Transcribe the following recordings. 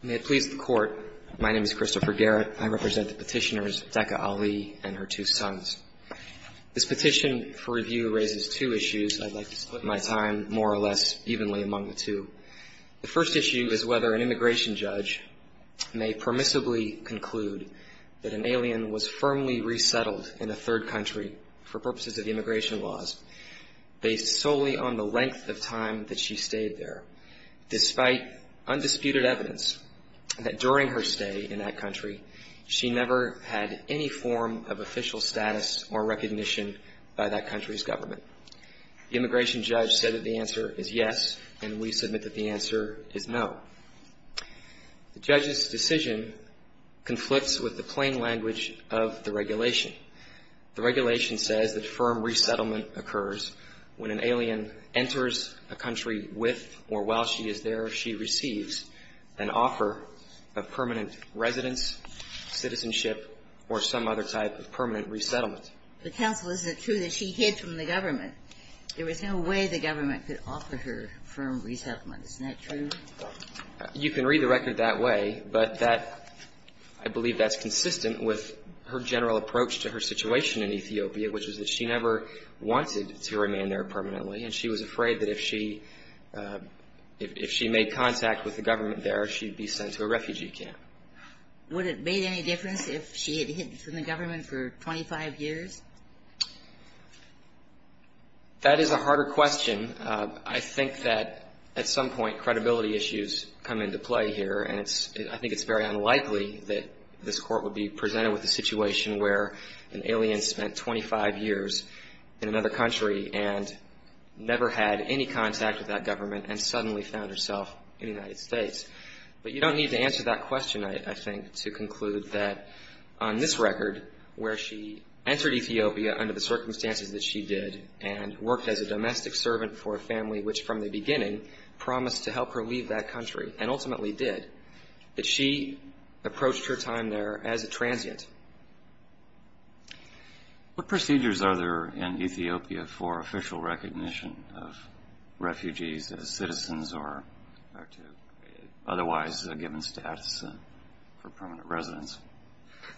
May it please the Court, my name is Christopher Garrett. I represent the Petitioners Dekha Ali and her two sons. This petition for review raises two issues. I'd like to split my time more or less evenly among the two. The first issue is whether an immigration judge may permissibly conclude that an alien was firmly resettled in a third country for purposes of immigration laws, based solely on the length of time that she stayed there, despite undisputed evidence that during her stay in that country, she never had any form of official status or recognition by that country's government. The immigration judge said that the answer is yes, and we submit that the answer is no. The judge's decision conflicts with the plain language of the regulation. The regulation says that firm resettlement occurs when an alien enters a country with or while she is there, she receives an offer of permanent residence, citizenship, or some other type of permanent resettlement. But, Counsel, is it true that she hid from the government? There was no way the government could offer her firm resettlement. Isn't that true? You can read the record that way, but that, I believe that's consistent with her general approach to her situation in Ethiopia, which is that she never wanted to remain there permanently, and she was afraid that if she made contact with the government there, she'd be sent to a refugee camp. Would it make any difference if she had hid from the government for 25 years? That is a harder question. I think that at some point credibility issues come into play here, and I think it's very unlikely that this Court would be presented with a situation where an alien spent 25 years in another country and never had any contact with that government and suddenly found herself in the United States. But you don't need to answer that question, I think, to conclude that on this record, where she entered Ethiopia under the circumstances that she did and worked as a domestic servant for a family which, from the beginning, promised to help her leave that country, and ultimately did, that she approached her time there as a transient. What procedures are there in Ethiopia for official recognition of refugees as citizens or to otherwise given status for permanent residence?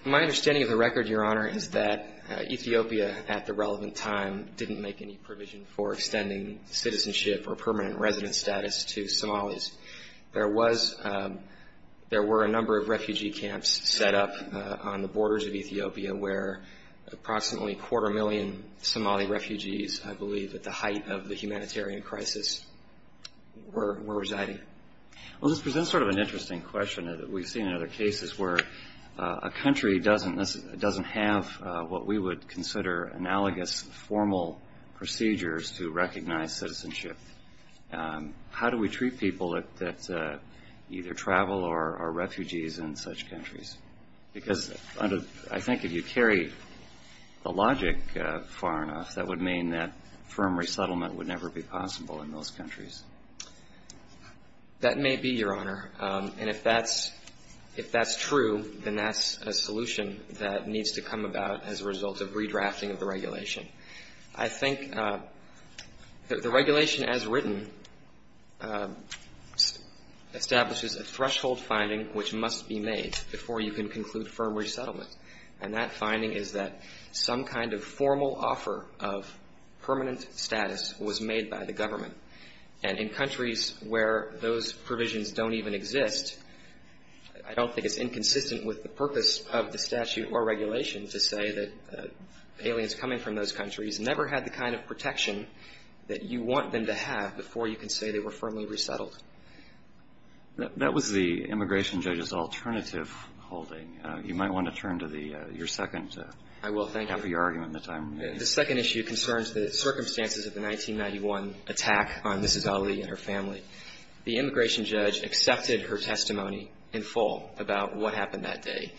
My understanding of the record, Your Honor, is that Ethiopia, at the relevant time, didn't make any provision for extending citizenship or permanent residence status to Somalis. There were a number of refugee camps set up on the borders of Ethiopia where approximately a quarter million Somali refugees, I believe at the height of the humanitarian crisis, were residing. Well, this presents sort of an interesting question that we've seen in other cases where a country doesn't have what we would consider analogous formal procedures to recognize citizenship. How do we treat people that either travel or are refugees in such countries? Because I think if you carry the logic far enough, that would mean that firm resettlement would never be possible in those countries. That may be, Your Honor. And if that's true, then that's a solution that needs to come about as a result of redrafting of the regulation. I think the regulation as written establishes a threshold finding which must be made before you can conclude firm resettlement. And that finding is that some kind of formal offer of permanent status was made by the government. And in countries where those provisions don't even exist, I don't think it's inconsistent with the purpose of the statute or regulation to say that aliens coming from those countries never had the kind of protection that you want them to have before you can say they were firmly resettled. That was the immigration judge's alternative holding. You might want to turn to the your second. I will. Thank you. For your argument in the time. The second issue concerns the circumstances of the 1991 attack on Mrs. Ali and her family. The immigration judge accepted her testimony in full about what happened that day.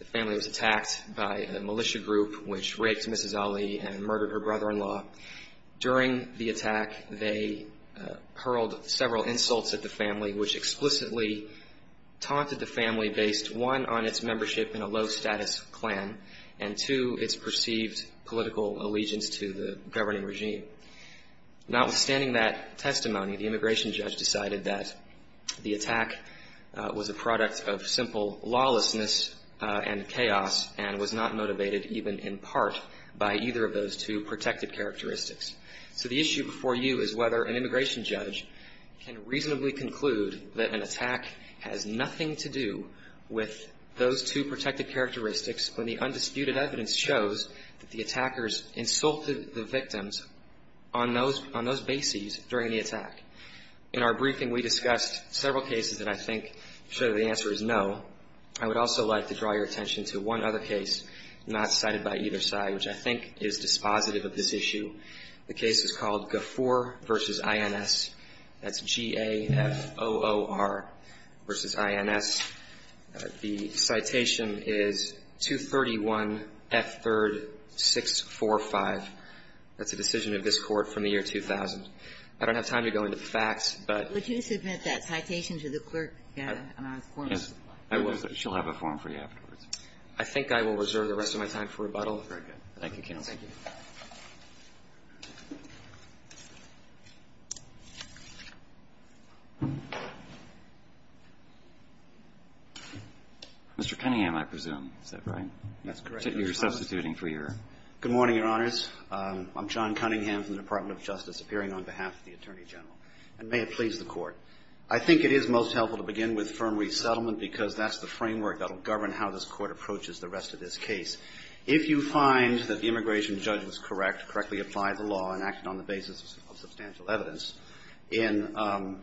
The family was attacked by a militia group which raped Mrs. Ali and murdered her brother-in-law. During the attack, they hurled several insults at the family, which explicitly taunted the family based, one, on its membership in a low-status clan, and, two, its perceived political allegiance to the governing regime. Notwithstanding that testimony, the immigration judge decided that the attack was a product of simple lawlessness and chaos and was not motivated even in part by either of those two protected characteristics. So the issue before you is whether an immigration judge can reasonably conclude that an attack has nothing to do with those two protected characteristics when the undisputed evidence shows that the attackers insulted the victims on those bases during the attack. In our briefing, we discussed several cases that I think show that the answer is no. I would also like to draw your attention to one other case not cited by either side, which I think is dispositive of this issue. The case is called Gafoor v. INS. That's G-A-F-O-O-R v. INS. The citation is 231 F. 3rd. 645. That's a decision of this Court from the year 2000. I don't have time to go into the facts, but ---- Would you submit that citation to the clerk? Yes. I will. She'll have a form for you afterwards. Very good. Thank you, counsel. Thank you. Mr. Cunningham, I presume. Is that right? That's correct. You're substituting for your ---- Good morning, Your Honors. I'm John Cunningham from the Department of Justice, appearing on behalf of the Attorney General. And may it please the Court. I think it is most helpful to begin with firm resettlement because that's the framework that will govern how this Court approaches the rest of this case. If you find that the immigration judge was correct, correctly applied the law and acted on the basis of substantial evidence in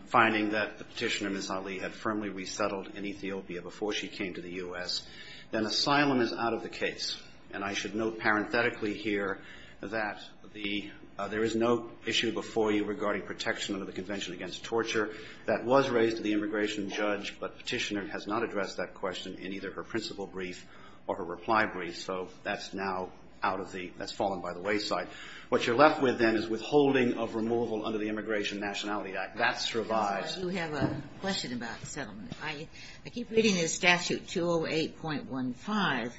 finding that the Petitioner, Ms. Ali, had firmly resettled in Ethiopia before she came to the U.S., then asylum is out of the case. And I should note parenthetically here that the ---- there is no issue before you regarding protection under the Convention Against Torture that was raised to the immigration judge. But Petitioner has not addressed that question in either her principal brief or her reply brief. So that's now out of the ---- that's fallen by the wayside. What you're left with, then, is withholding of removal under the Immigration Nationality Act. That survives. You have a question about the settlement. I keep reading this statute, 208.15.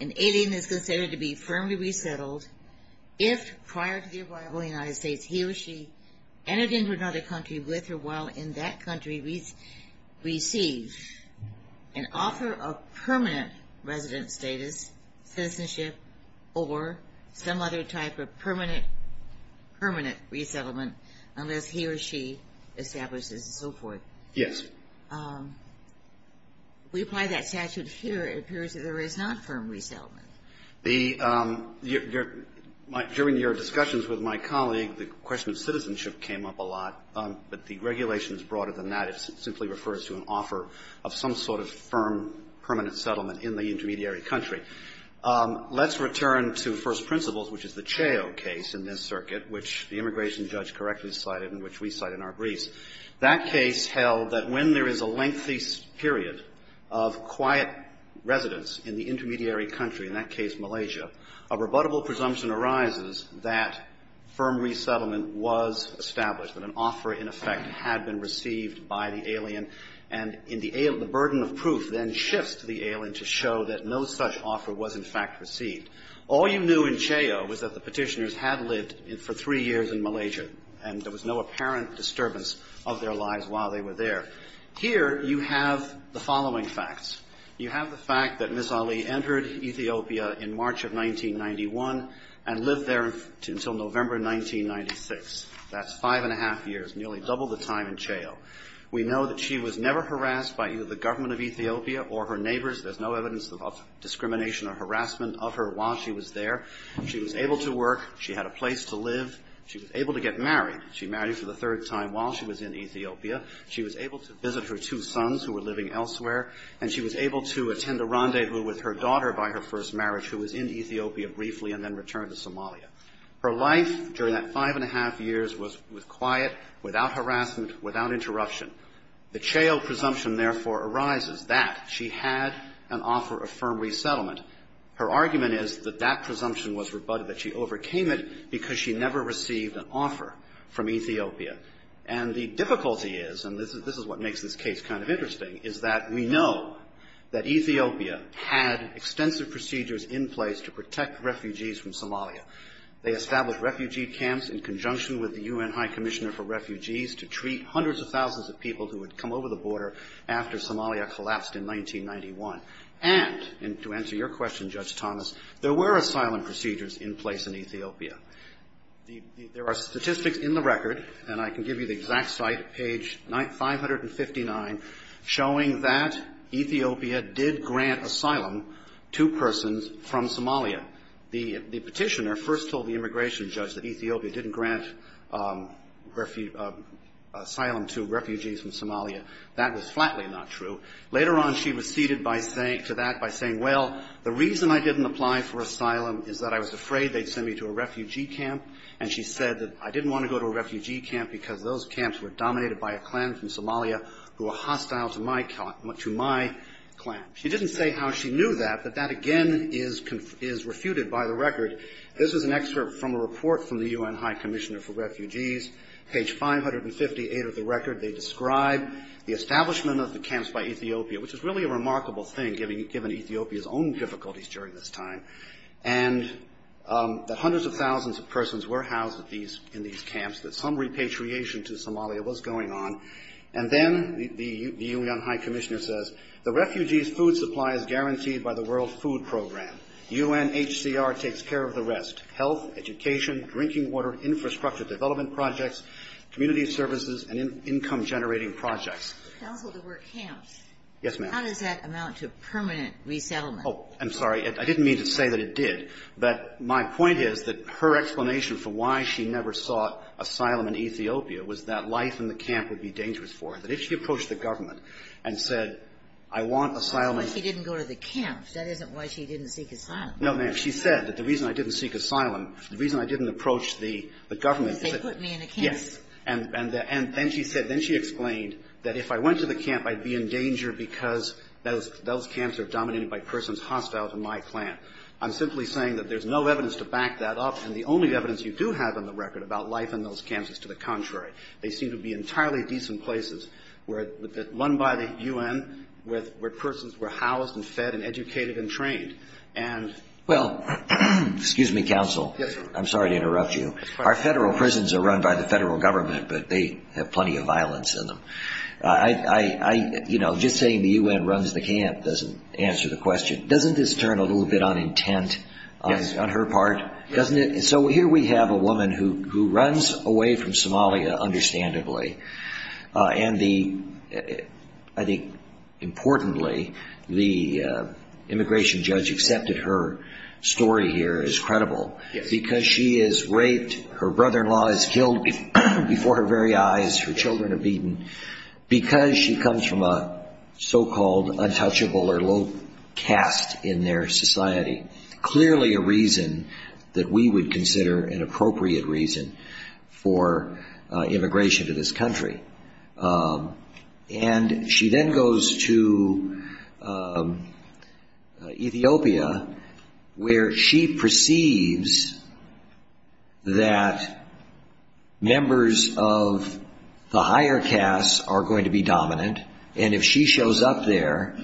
An alien is considered to be firmly resettled if prior to the arrival in the United States, he receives an offer of permanent resident status, citizenship, or some other type of permanent resettlement unless he or she establishes and so forth. Yes. We apply that statute here. It appears that there is not firm resettlement. During your discussions with my colleague, the question of citizenship came up a lot. But the regulation is broader than that. It simply refers to an offer of some sort of firm permanent settlement in the intermediary country. Let's return to First Principles, which is the Chao case in this circuit, which the immigration judge correctly cited and which we cite in our briefs. That case held that when there is a lengthy period of quiet residence in the intermediary country, in that case Malaysia, a rebuttable presumption arises that firm resettlement was established, that an offer, in effect, had been received by the alien. And the burden of proof then shifts to the alien to show that no such offer was in fact received. All you knew in Chao was that the Petitioners had lived for three years in Malaysia, and there was no apparent disturbance of their lives while they were there. Here you have the following facts. You have the fact that Ms. Ali entered Ethiopia in March of 1991 and lived there until November 1996. That's five and a half years, nearly double the time in Chao. We know that she was never harassed by either the government of Ethiopia or her neighbors. There's no evidence of discrimination or harassment of her while she was there. She was able to work. She had a place to live. She was able to get married. She married for the third time while she was in Ethiopia. She was able to visit her two sons who were living elsewhere. And she was able to attend a rendezvous with her daughter by her first marriage, who was in Ethiopia briefly and then returned to Somalia. Her life during that five and a half years was quiet, without harassment, without interruption. The Chao presumption, therefore, arises that she had an offer of firm resettlement. Her argument is that that presumption was rebutted, that she overcame it because she never received an offer from Ethiopia. And the difficulty is, and this is what makes this case kind of interesting, is that we know that Ethiopia had extensive procedures in place to protect refugees from Somalia. They established refugee camps in conjunction with the UN High Commissioner for Refugees to treat hundreds of thousands of people who had come over the border after Somalia collapsed in 1991. And, to answer your question, Judge Thomas, there were asylum procedures in place in Ethiopia. There are statistics in the record, and I can give you the exact site, page 559, showing that Ethiopia did grant asylum to persons from Somalia. The petitioner first told the immigration judge that Ethiopia didn't grant asylum to refugees from Somalia. That was flatly not true. Later on, she receded to that by saying, well, the reason I didn't apply for asylum is that I was afraid they'd send me to a refugee camp. And she said that I didn't want to go to a refugee camp because those camps were dominated by a clan from Somalia who were hostile to my clan. She didn't say how she knew that, but that again is refuted by the record. This is an excerpt from a report from the UN High Commissioner for Refugees, page 558 of the record. They describe the establishment of the camps by Ethiopia, which is really a remarkable thing given Ethiopia's own difficulties during this time, and that hundreds of thousands of persons were housed in these camps, that some repatriation to Somalia was going on. And then the UN High Commissioner says, the refugees' food supply is guaranteed by the World Food Program. UNHCR takes care of the rest, health, education, drinking water, infrastructure development projects, community services, and income-generating projects. Counsel, there were camps. Yes, ma'am. How does that amount to permanent resettlement? Oh, I'm sorry. I didn't mean to say that it did. But my point is that her explanation for why she never sought asylum in Ethiopia was that life in the camp would be dangerous for her, that if she approached the government and said, I want asylum in Ethiopia. That's why she didn't go to the camps. That isn't why she didn't seek asylum. No, ma'am. She said that the reason I didn't seek asylum, the reason I didn't approach the government is that they put me in a camp. Yes. And then she said, then she explained that if I went to the camp, I'd be in danger because those camps are dominated by persons hostile to my clan. I'm simply saying that there's no evidence to back that up, and the only evidence you do have on the record about life in those camps is to the contrary. They seem to be entirely decent places run by the U.N. where persons were housed and fed and educated and trained. Well, excuse me, Counsel. Yes, sir. I'm sorry to interrupt you. Our Federal prisons are run by the Federal Government, but they have plenty of violence in them. I, you know, just saying the U.N. runs the camp doesn't answer the question. Doesn't this turn a little bit on intent on her part? Yes. Doesn't it? So here we have a woman who runs away from Somalia, understandably, and the, I think importantly, the immigration judge accepted her story here as credible because she is raped. Her brother-in-law is killed before her very eyes. Her children are beaten because she comes from a so-called untouchable or low caste in their society. Clearly a reason that we would consider an appropriate reason for immigration to this country. And she then goes to Ethiopia where she perceives that members of the higher castes are going to be dominant, and if she shows up there,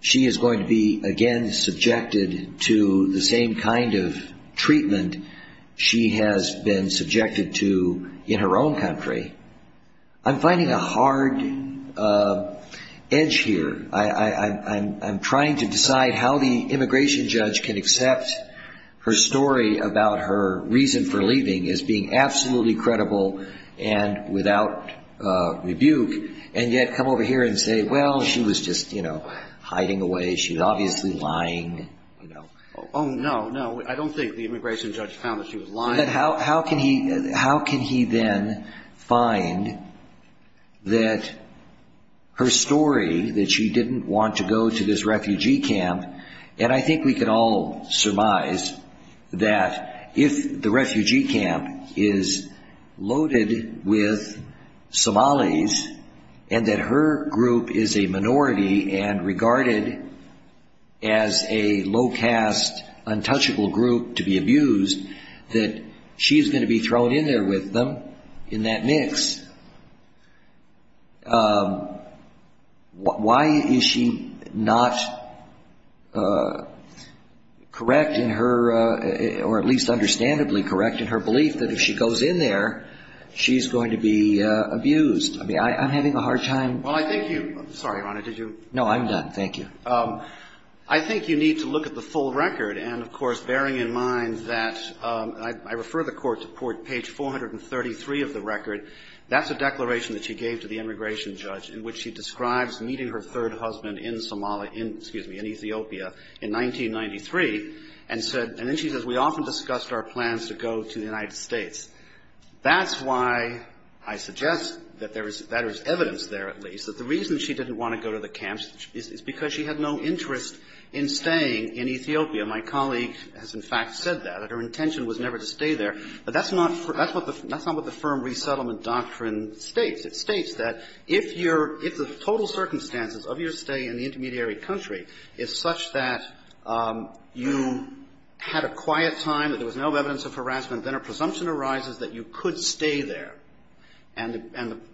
she is going to be again subjected to the same kind of treatment she has been subjected to in her own country. I'm finding a hard edge here. I'm trying to decide how the immigration judge can accept her story about her reason for leaving as being absolutely credible and without rebuke, and yet come over here and say, well, she was just, you know, hiding away. She was obviously lying. Oh, no, no. I don't think the immigration judge found that she was lying. How can he then find that her story that she didn't want to go to this refugee camp, and I think we can all surmise that if the refugee camp is loaded with Somalis and that her group is a minority and regarded as a low caste, untouchable group to be abused, that she is going to be thrown in there with them in that mix. Why is she not correct in her, or at least understandably correct in her belief that if she goes in there, she's going to be abused? I mean, I'm having a hard time. Well, I think you need to look at the full record. And, of course, bearing in mind that I refer the Court to page 433 of the record, that's a declaration that she gave to the immigration judge in which she describes meeting her third husband in Somalia, excuse me, in Ethiopia in 1993, and then she says, we often discussed our plans to go to the United States. That's why I suggest that there is evidence there, at least, that the reason she didn't want to go to the camps is because she had no interest in staying in Ethiopia. My colleague has, in fact, said that, that her intention was never to stay there. But that's not what the firm resettlement doctrine states. It states that if the total circumstances of your stay in the intermediary country is such that you had a quiet time, that there was no evidence of harassment, then a presumption arises that you could stay there. And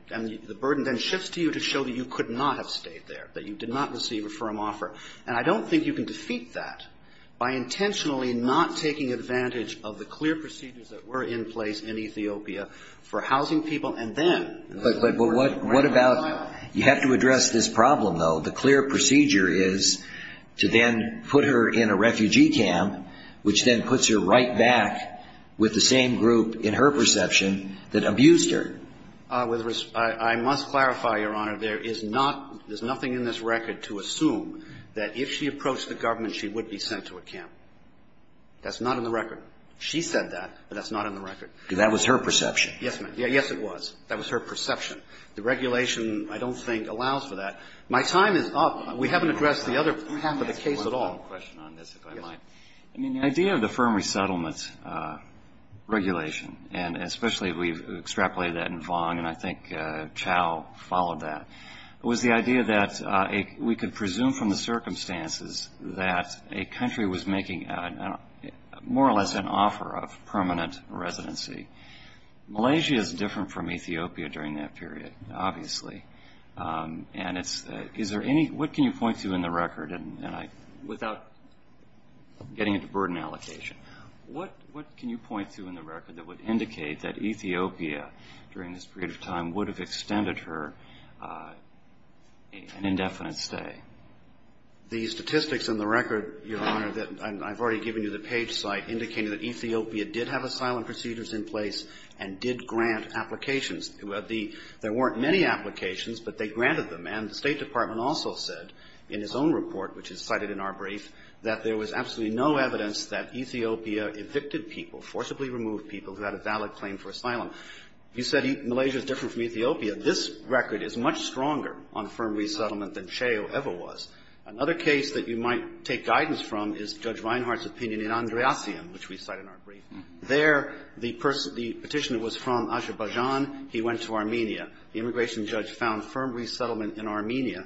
the burden then shifts to you to show that you could not have stayed there, that you did not receive a firm offer. And I don't think you can defeat that by intentionally not taking advantage of the clear procedures that were in place in Ethiopia for housing people and then. But what about you have to address this problem, though. What the clear procedure is to then put her in a refugee camp, which then puts her right back with the same group, in her perception, that abused her. With respect, I must clarify, Your Honor, there is not, there's nothing in this record to assume that if she approached the government, she would be sent to a camp. That's not in the record. She said that, but that's not in the record. That was her perception. Yes, ma'am. Yes, it was. That was her perception. The regulation, I don't think, allows for that. My time is up. We haven't addressed the other half of the case at all. I have one final question on this, if I might. Yes. I mean, the idea of the firm resettlement regulation, and especially we've extrapolated that in Vong, and I think Chow followed that, was the idea that we could presume from the circumstances that a country was making more or less an offer of permanent residency. Malaysia is different from Ethiopia during that period, obviously. And it's, is there any, what can you point to in the record, and I, without getting into burden allocation, what, what can you point to in the record that would indicate that Ethiopia, during this period of time, would have extended her an indefinite stay? The statistics in the record, Your Honor, that I've already given you the page site, indicating that Ethiopia did have asylum procedures in place and did grant applications. There weren't many applications, but they granted them. And the State Department also said, in his own report, which is cited in our brief, that there was absolutely no evidence that Ethiopia evicted people, forcibly removed people, who had a valid claim for asylum. You said Malaysia is different from Ethiopia. This record is much stronger on firm resettlement than Chow ever was. Another case that you might take guidance from is Judge Reinhart's opinion in Andreasium, which we cite in our brief. There, the person, the petitioner was from Azerbaijan. He went to Armenia. The immigration judge found firm resettlement in Armenia.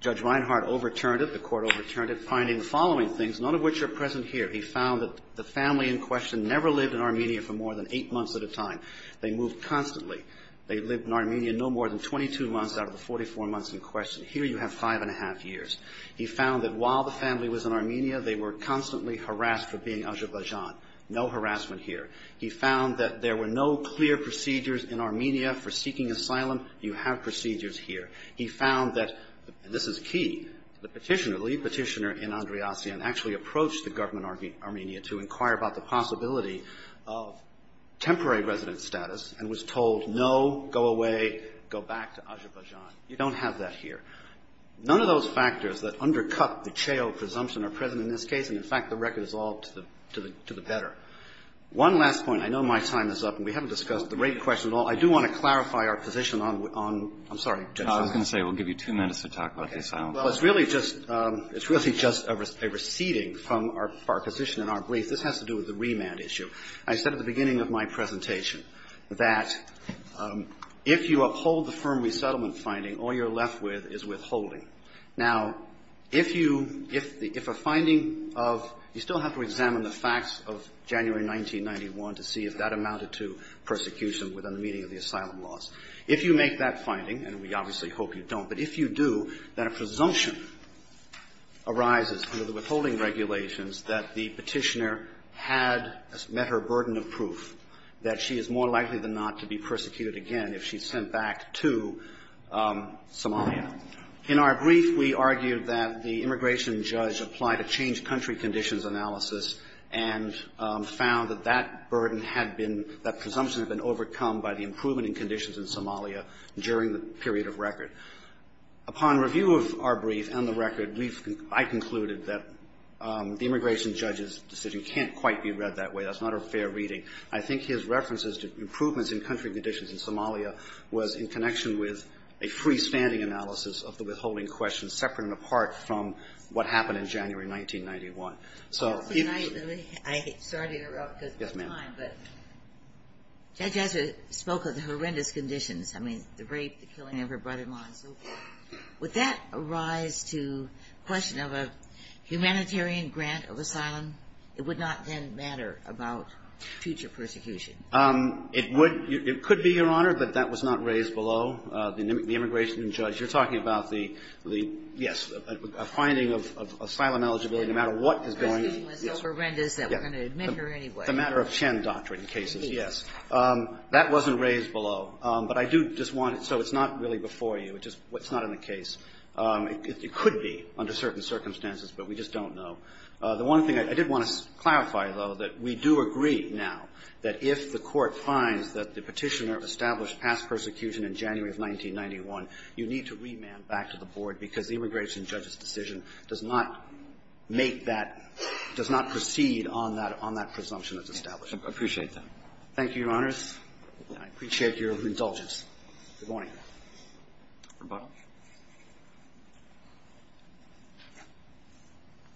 Judge Reinhart overturned it. The court overturned it, finding the following things, none of which are present here. He found that the family in question never lived in Armenia for more than eight months at a time. They moved constantly. They lived in Armenia no more than 22 months out of the 44 months in question. Here you have five and a half years. He found that while the family was in Armenia, they were constantly harassed for being Azerbaijan. No harassment here. He found that there were no clear procedures in Armenia for seeking asylum. You have procedures here. He found that, and this is key, the petitioner, the lead petitioner in Andreasium actually approached the government in Armenia to inquire about the possibility of temporary resident status and was told, no, go away, go back to Azerbaijan. You don't have that here. None of those factors that undercut the Chao presumption are present in this case, and, in fact, the record is all to the better. One last point. I know my time is up, and we haven't discussed the rate question at all. I do want to clarify our position on the – I'm sorry, Judge Reinhart. I was going to say we'll give you two minutes to talk about the asylum. Okay. Well, it's really just – it's really just a receding from our position in our brief. This has to do with the remand issue. I said at the beginning of my presentation that if you uphold the firm resettlement finding, all you're left with is withholding. Now, if you – if a finding of – you still have to examine the facts of January 1991 to see if that amounted to persecution within the meaning of the asylum laws. If you make that finding, and we obviously hope you don't, but if you do, then a presumption arises under the withholding regulations that the petitioner had met her burden of proof that she is more likely than not to be persecuted again if she's sent back to Somalia. In our brief, we argued that the immigration judge applied a changed country conditions analysis and found that that burden had been – that presumption had been overcome by the improvement in conditions in Somalia during the period of record. Upon review of our brief and the record, we've – I concluded that the immigration judge's decision can't quite be read that way. That's not a fair reading. I think his references to improvements in country conditions in Somalia was in connection with a freestanding analysis of the withholding question separate and apart from what happened in January 1991. So if – I'm sorry to interrupt. Yes, ma'am. Judge Ezra spoke of the horrendous conditions. I mean, the rape, the killing of her brother-in-law and so forth. Would that arise to question of a humanitarian grant of asylum? It would not then matter about future persecution. It would – it could be, Your Honor, but that was not raised below. The immigration judge – you're talking about the – yes, a finding of asylum eligibility, no matter what is going on. Yes. The thing was so horrendous that we're going to admit her anyway. The matter of Chen doctrine cases, yes. That wasn't raised below. But I do just want – so it's not really before you. It just – it's not in the case. It could be under certain circumstances, but we just don't know. The one thing I did want to clarify, though, that we do agree now that if the Court finds that the Petitioner established past persecution in January of 1991, you need to remand back to the Board because the immigration judge's decision does not make that – does not proceed on that – on that presumption that's established. I appreciate that. Thank you, Your Honors. I appreciate your indulgence. Good morning.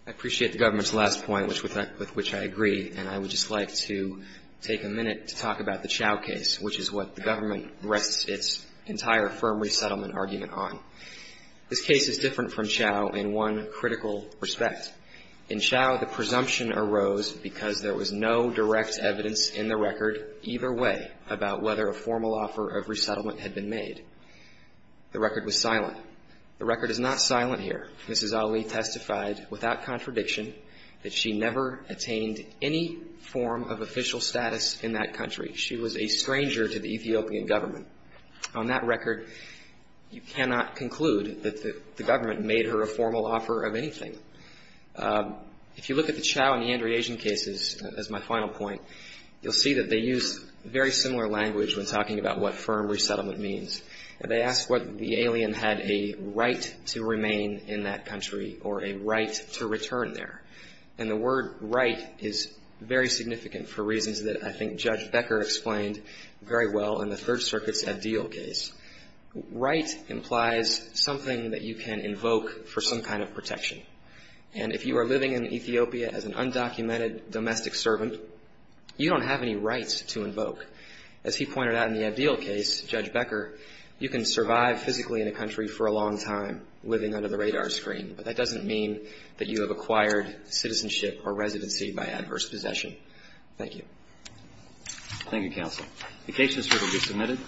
I appreciate the government's last point, which – with which I agree, and I would just like to take a minute to talk about the Chau case, which is what the government rests its entire firm resettlement argument on. This case is different from Chau in one critical respect. In Chau, the presumption arose because there was no direct evidence in the record either way about whether a formal offer of resettlement had been made. The record was silent. The record is not silent here. Mrs. Ali testified without contradiction that she never attained any form of official status in that country. She was a stranger to the Ethiopian government. On that record, you cannot conclude that the government made her a formal offer of anything. If you look at the Chau and the Andre Asian cases, as my final point, you'll see that they use very similar language when talking about what firm resettlement means. They ask whether the alien had a right to remain in that country or a right to return there. And the word right is very significant for reasons that I think Judge Becker explained very well in the Third Circuit's ideal case. Right implies something that you can invoke for some kind of protection. And if you are living in Ethiopia as an undocumented domestic servant, you don't have any rights to invoke. As he pointed out in the ideal case, Judge Becker, you can survive physically in a country for a long time living under the radar screen. But that doesn't mean that you have acquired citizenship or residency by adverse possession. Thank you. Thank you, counsel. The case is ready to be submitted.